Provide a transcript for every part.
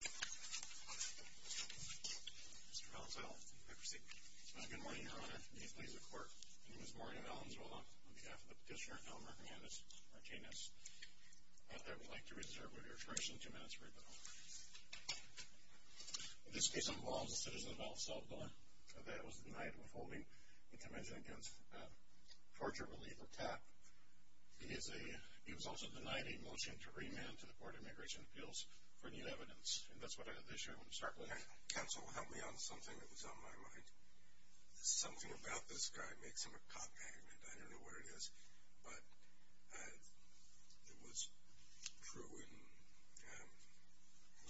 Mr. Valenzuela, good morning Your Honor, and please the court. My name is Maureen Valenzuela on behalf of the petitioner, Elmer Hernandez-Martinez. I would like to reserve your attention for two minutes. This case involves a citizen of El Salvador that was denied withholding the Convention against Torture Relief or TAP. He was also denied a motion to remand to the evidence. That's the issue I want to start with. Counsel, help me on something that was on my mind. Something about this guy makes him a cop magnet. I don't know where it is, but it was true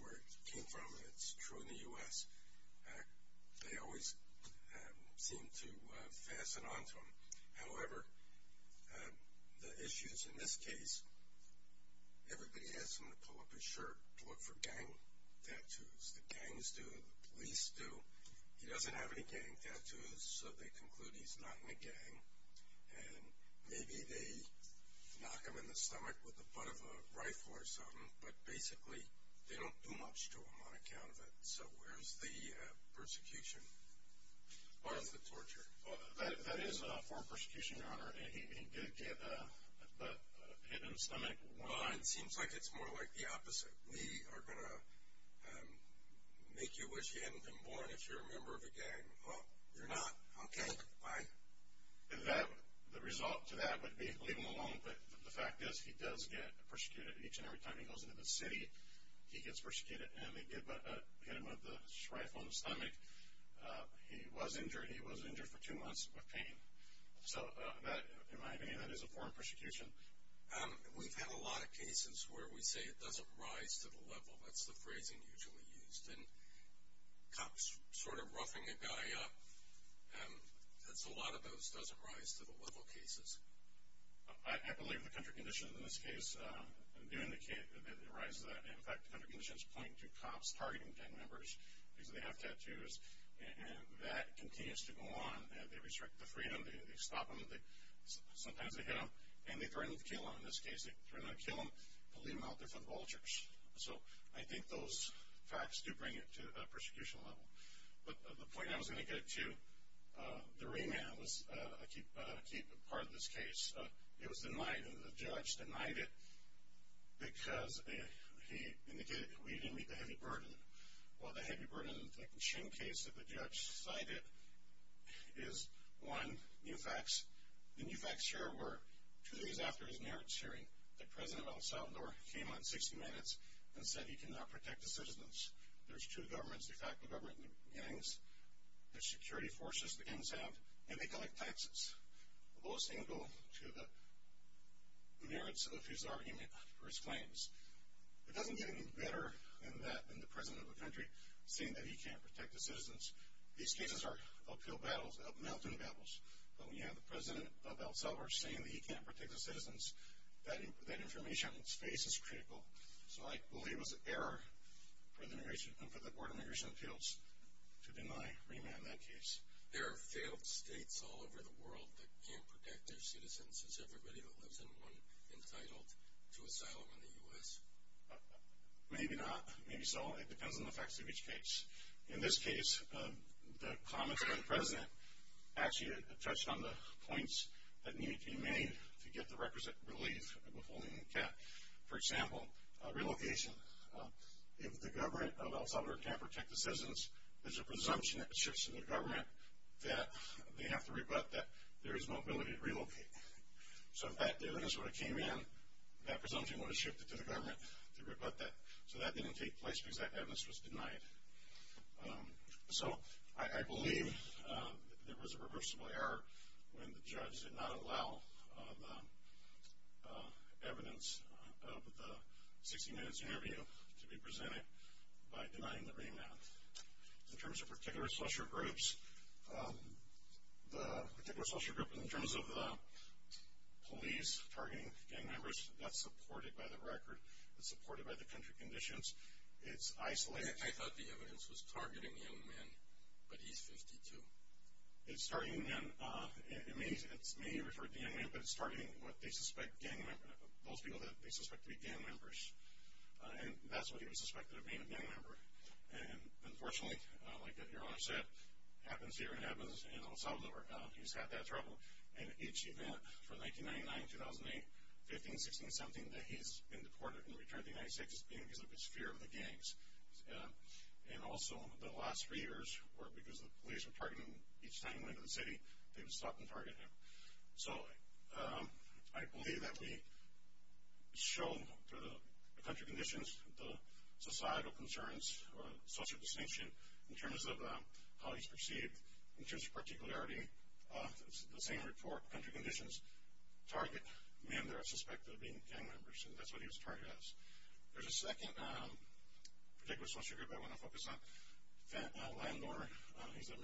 where it came from. It's true in the U.S. They always seem to fasten on to him. However, the issue is in this case everybody asks him to pull up his shirt to look for gang tattoos. The gangs do, the police do. He doesn't have any gang tattoos, so they conclude he's not in a gang. And maybe they knock him in the stomach with the butt of a rifle or something, but basically they don't do much to him on account of it. So where's the persecution part of the torture? That is a form of persecution, Your Honor. He did get a butt hit in the stomach. Well, it seems like it's more like the opposite. We are going to make you wish you hadn't been born if you're a member of a gang. Well, you're not. Okay, bye. The result to that would be leave him alone, but the fact is he does get persecuted each and every time he goes into the city. He gets persecuted and they hit him with a rifle in the stomach. He was injured. He was injured for two months with pain. So that, in my opinion, that is a form of persecution. We've had a lot of cases where we say it doesn't rise to the level. That's the phrasing usually used. And cops sort of roughing a guy up, that's a lot of those doesn't rise to the level cases. I believe the country conditions in this case do indicate that it rises to that. In fact, the country conditions point to cops targeting gang members because they have tattoos. And that continues to go on. They restrict the freedom. They stop them. Sometimes they hit them. And they threaten to kill them in this case. They threaten to kill them and leave them out there for the vultures. So I think those facts do bring it to a persecution level. But the point I was going to get to, the remand was a key part of this case. It was denied and the judge denied it because he indicated that we didn't meet the heavy burden. Well, the heavy burden in the Chin case that the judge cited is, one, new facts. The new facts here were, two days after his merits hearing, that President El Salvador came on 60 Minutes and said he cannot protect the citizens. There's two governments, in fact the government and the gangs, the security forces the gangs have, and they collect taxes. Those things go to the merits of his argument for his claims. It doesn't get any better than that, than the President of the country saying that he can't protect the citizens. These cases are uphill battles, up-mountain battles. But when you have the President of El Salvador saying that he can't protect the citizens, that information on his face is critical. So I believe it was an error for the Board of Immigration Appeals to deny remand in that case. There are failed states all over the world that can't protect their citizens. Is everybody that lives in one entitled to asylum in the U.S.? Maybe not, maybe so. It depends on the facts of each case. In this case, the comments by the President actually touched on the points that needed to be made to get the requisite relief before being kept. For example, relocation. If the government of El Salvador can't protect the citizens, there's a presumption that shifts in the government that they have to rebut that there is no ability to relocate. So if that evidence would have came in, that presumption would have shifted to the government to rebut that. So that didn't take place because that evidence was denied. So I believe there was a reversible error when the judge did not allow the evidence of the 60 Minutes interview to be presented by denying the remand. In terms of particular social groups, the particular social group in terms of the police targeting gang members, that's supported by the record. It's supported by the country conditions. It's isolated. I thought the evidence was targeting young men, but he's 52. It's targeting men. It may refer to young men, but it's targeting what they suspect to be gang members. And that's what he was suspected of being, a gang member. And unfortunately, like your Honor said, it happens here and it happens in El Salvador. He's had that trouble. And each event from 1999 to 2008, 15, 16, 17 days, he's been deported and returned to the United States as being because of his fear of the gangs. And also, the last three years were because the police were targeting him each time he stopped and targeted him. So I believe that we show through the country conditions, the societal concerns, social distinction in terms of how he's perceived, in terms of particularity, the same report, country conditions, target men that are suspected of being gang members. And that's what he was targeted as. There's a second particular social group I want to focus on. Landowner. He's a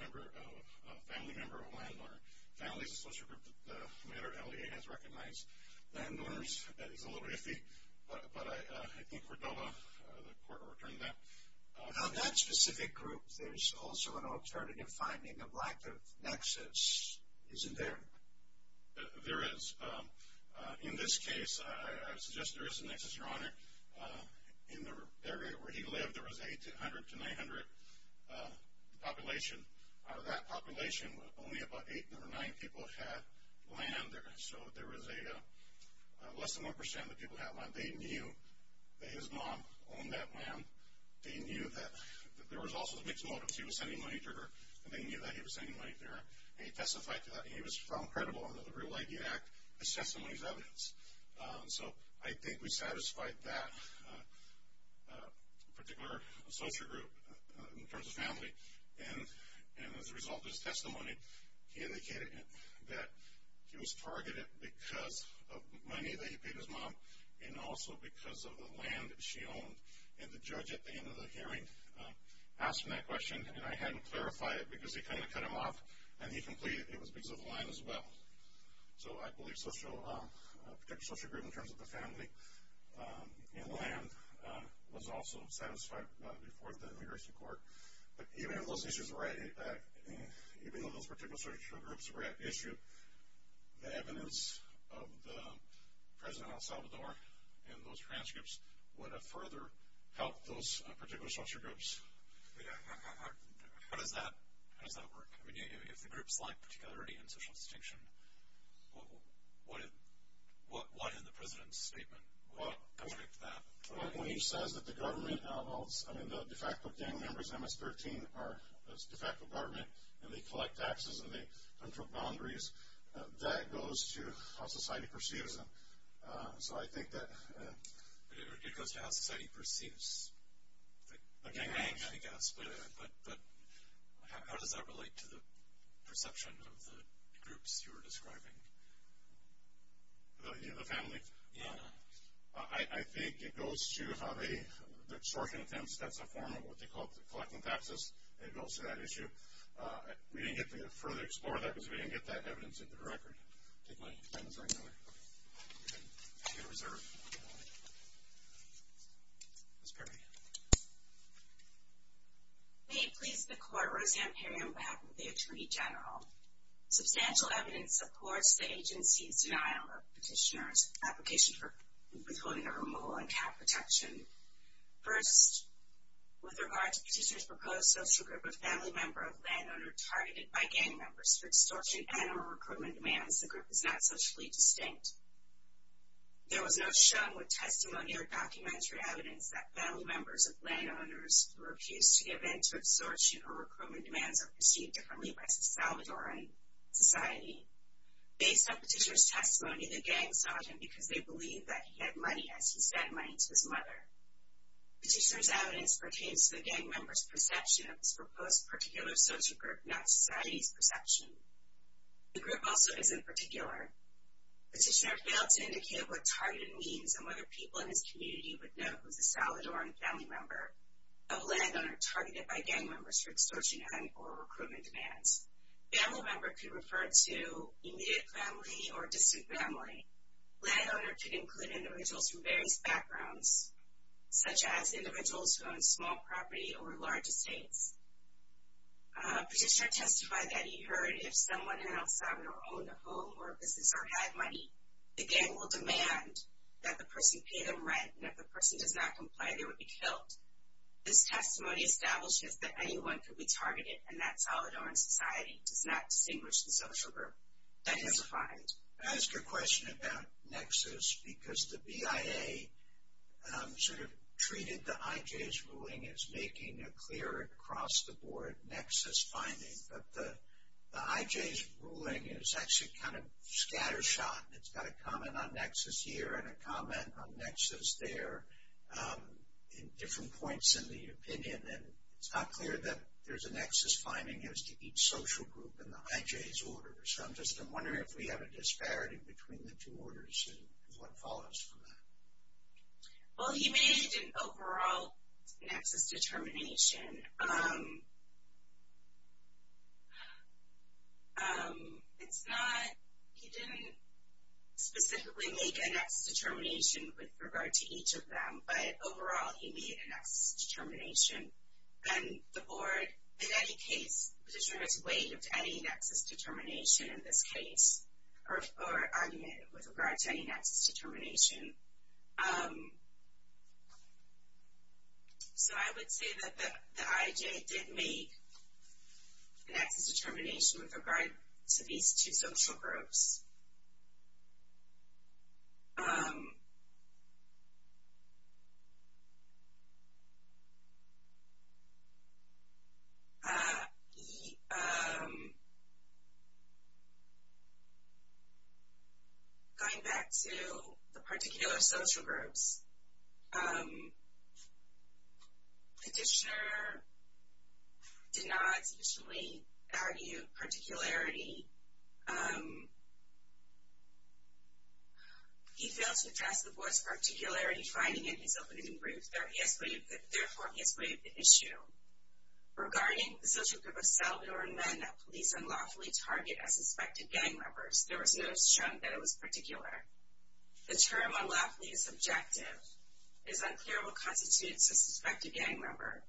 family member of a landowner. Family is a social group that the matter at LEA has recognized. Landowners, that is a little bit iffy, but I think Cordoba, the court will return that. Now that specific group, there's also an alternative finding of lack of nexus, isn't there? There is. In this case, I suggest there is a nexus, Your Honor. In the area where he lived, there was 800 to 900 population. Out of that population, only about eight or nine people had land. So there was less than 1% of the people had land. They knew that his mom owned that land. They knew that there was also mixed motives. He was sending money to her, and they knew that he was sending money to her. And he testified to that, and he was found credible under the Real ID Act, assessing all these evidence. So I think we satisfied that particular social group in terms of family. And as a result of his testimony, he indicated that he was targeted because of money that he paid his mom and also because of the land that she owned. And the judge at the end of the hearing asked him that question, and I hadn't clarified it because they kind of cut him off, and he completed it. It was because of the land as well. So I believe a particular social group in terms of the family and land was also satisfied before the immigration court. But even if those issues were at issue, the evidence of the President of El Salvador and those transcripts would have further helped those particular social groups. How does that work? I mean, if the groups lack particularity and social distinction, what in the President's statement would contribute to that? Well, when he says that the government, I mean, the de facto gang members in MS-13 are a de facto government, and they collect taxes, and they control boundaries, that goes to how society perceives them. So I think that... But how does that relate to the perception of the groups you were describing? The family? Yeah. I think it goes to how they, the extortion attempts, that's a form of what they call collecting taxes, and it goes to that issue. We didn't get to further explore that because we didn't get that evidence in the record. Take my hands right now. Okay. You can reserve. Ms. Perry. May it please the Court, Rosie Ampario on behalf of the Attorney General. Substantial evidence supports the agency's denial of petitioner's application for withholding a removal and cat protection. First, with regard to petitioner's proposed social group, a family member of a landowner targeted by gang members for extortion and animal recruitment demands, the group is not socially distinct. There was no shown with testimony or documentary evidence that family members of landowners who refused to give in to extortion or recruitment demands are perceived differently by Salvadoran society. Based on petitioner's testimony, the gang sought him because they believed that he had money, as he spent money to his mother. Petitioner's evidence pertains to the gang member's perception of his proposed particular social group, not society's perception. The group also isn't particular. Petitioner failed to indicate what targeted means and whether people in his community would know who is a Salvadoran family member of a landowner targeted by gang members for extortion and animal recruitment demands. Family member could refer to immediate family or distant family. Landowner could include individuals from various backgrounds, such as individuals who own small property or large estates. Petitioner testified that he heard if someone in El Salvador owned a home or businesses or had money, the gang will demand that the person pay them rent, and if the person does not comply, they would be killed. This testimony establishes that anyone could be targeted, and that Salvadoran society does not distinguish the social group. That is a find. I'm going to ask you a question about nexus, because the BIA sort of treated the IJ's ruling as making a clear across-the-board nexus finding, but the IJ's ruling is actually kind of scattershot. It's got a comment on nexus here and a comment on nexus there, and different points in the opinion, and it's not clear that there's a nexus finding as to each social group in the IJ's order. So I'm just wondering if we have a disparity between the two orders, and what follows from that. Well, he made an overall nexus determination. It's not he didn't specifically make a nexus determination with regard to each of them, but overall he made a nexus determination, and the board in any case, the petitioner has waived any nexus determination in this case, or argued with regard to any nexus determination. So I would say that the IJ did make a nexus determination with regard to these two social groups. Going back to the particular social groups, the petitioner did not sufficiently argue particularity. He failed to address the board's particularity finding in his opening brief, therefore he has waived the issue. Regarding the social group of Salvadoran men that police unlawfully target as suspected gang members, there was notice shown that it was particular. The term unlawfully is subjective. It is unclear what constitutes a suspected gang member,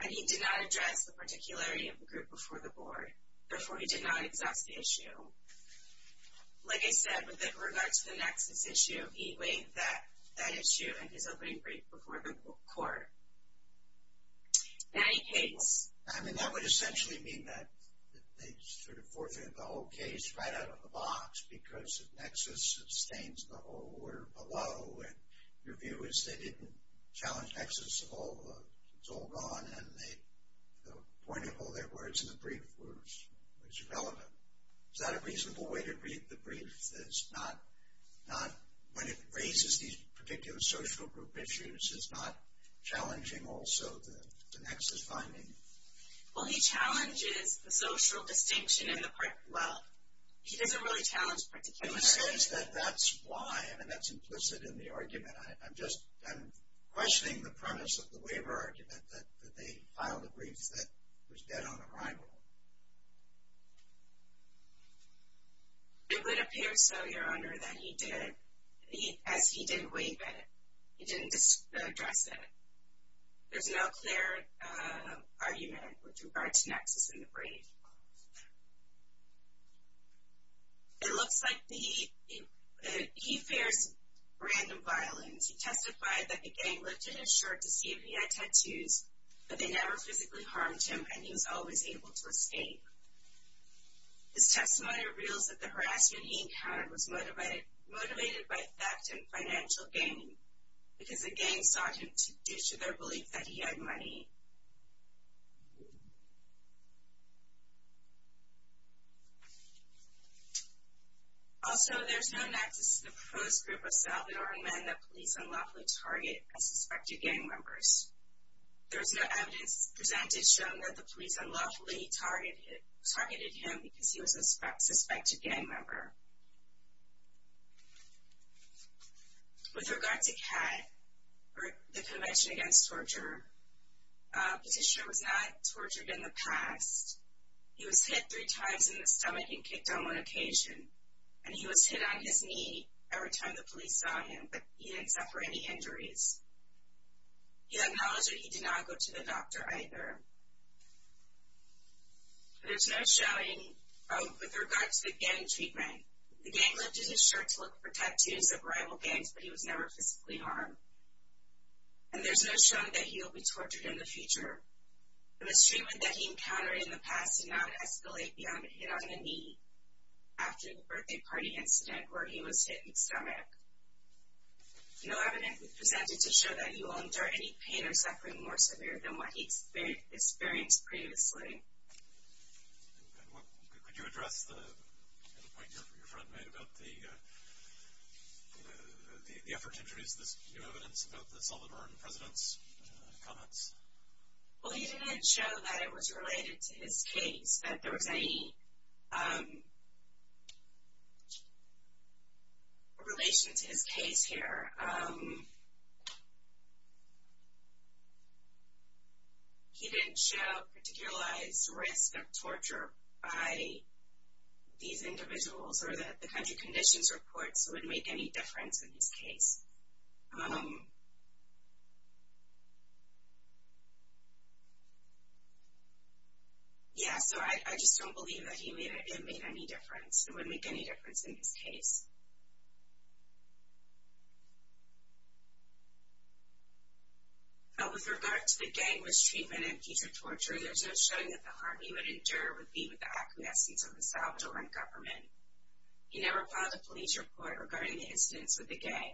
and he did not address the particularity of the group before the board, therefore he did not exhaust the issue. Like I said, with regard to the nexus issue, he waived that issue in his opening brief before the court. I mean, that would essentially mean that they sort of forfeited the whole case right out of the box, because the nexus sustains the whole order below, and your view is they didn't challenge nexus at all, it's all gone, and the point of all their words in the brief was irrelevant. Is that a reasonable way to read the brief? It's not, when it raises these particular social group issues, it's not challenging also the nexus finding. Well, he challenges the social distinction in the part, well, he doesn't really challenge particularity. In the sense that that's why, I mean, that's implicit in the argument. I'm just, I'm questioning the premise of the waiver argument, that they filed a brief that was dead on arrival. It would appear so, Your Honor, that he did, as he did waive it. He didn't address it. There's no clear argument with regard to nexus in the brief. It looks like he fears random violence. He testified that the gang lifted his shirt to see if he had tattoos, but they never physically harmed him, and he was always able to escape. His testimony reveals that the harassment he encountered was motivated by theft and financial gain, because the gang sought him due to their belief that he had money. Also, there's no nexus to the proposed group of Salvadoran men that police unlawfully target and suspected gang members. There's no evidence presented showing that the police unlawfully targeted him because he was a suspected gang member. With regard to CAD, or the Convention Against Torture, Petitioner was not tortured in the past. He was hit three times in the stomach and kicked on one occasion, and he was hit on his knee every time the police saw him, but he didn't suffer any injuries. He acknowledged that he did not go to the doctor either. There's no showing with regard to the gang treatment. The gang lifted his shirt to look for tattoos of rival gangs, but he was never physically harmed. And there's no showing that he will be tortured in the future. The mistreatment that he encountered in the past did not escalate beyond a hit on the knee No evidence was presented to show that he will endure any pain or suffering more severe than what he experienced previously. Well, he didn't show that it was related to his case, that there was any relation to his case here. He didn't show a particularized risk of torture by these individuals, or that the country conditions reports would make any difference in his case. Yeah, so I just don't believe that he made any difference, it wouldn't make any difference in his case. With regard to the gang mistreatment and future torture, there's no showing that the harm he would endure would be with the acquiescence of the Salvadoran government. He never filed a police report regarding the incidents with the gang.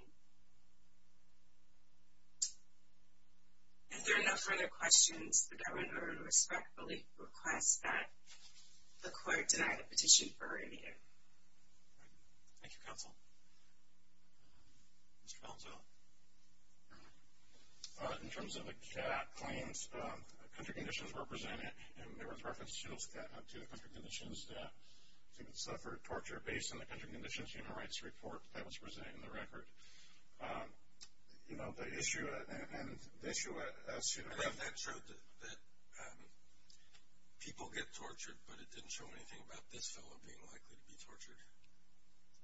If there are no further questions, the government would respectfully request that the court deny the petition for a re-meeting. Thank you, counsel. Mr. Palazzo. In terms of the CAT claims, country conditions were presented, and there was reference to the country conditions that he would suffer torture based on the country conditions human rights report that was presented in the record. You know, the issue, and the issue... But that showed that people get tortured, but it didn't show anything about this fellow being likely to be tortured.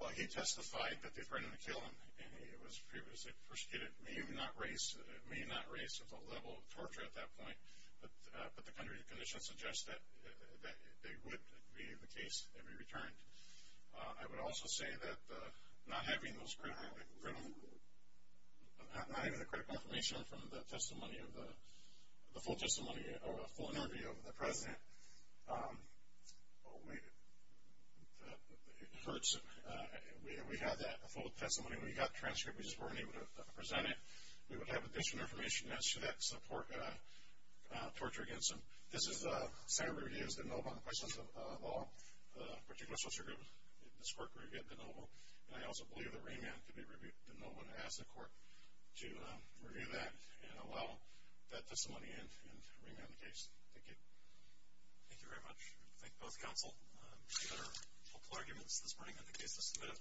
Well, he testified that they threatened to kill him, and he was previously persecuted. It may not raise the level of torture at that point, but the country conditions suggest that they would be the case and be returned. I would also say that not having the correct information from the testimony of the full testimony or a full interview of the president, it hurts. We had that full testimony. We got transcripts. We just weren't able to present it. We would have additional information as to that torture against him. This is the Senate review. It's de novo on the questions of all particular torture groups. This court reviewed it de novo, and I also believe that remand could be reviewed de novo and ask the court to review that and allow that testimony in and remand the case. Thank you. Thank you very much. Thank you both, counsel. Any other hopeful arguments this morning on the case to submit?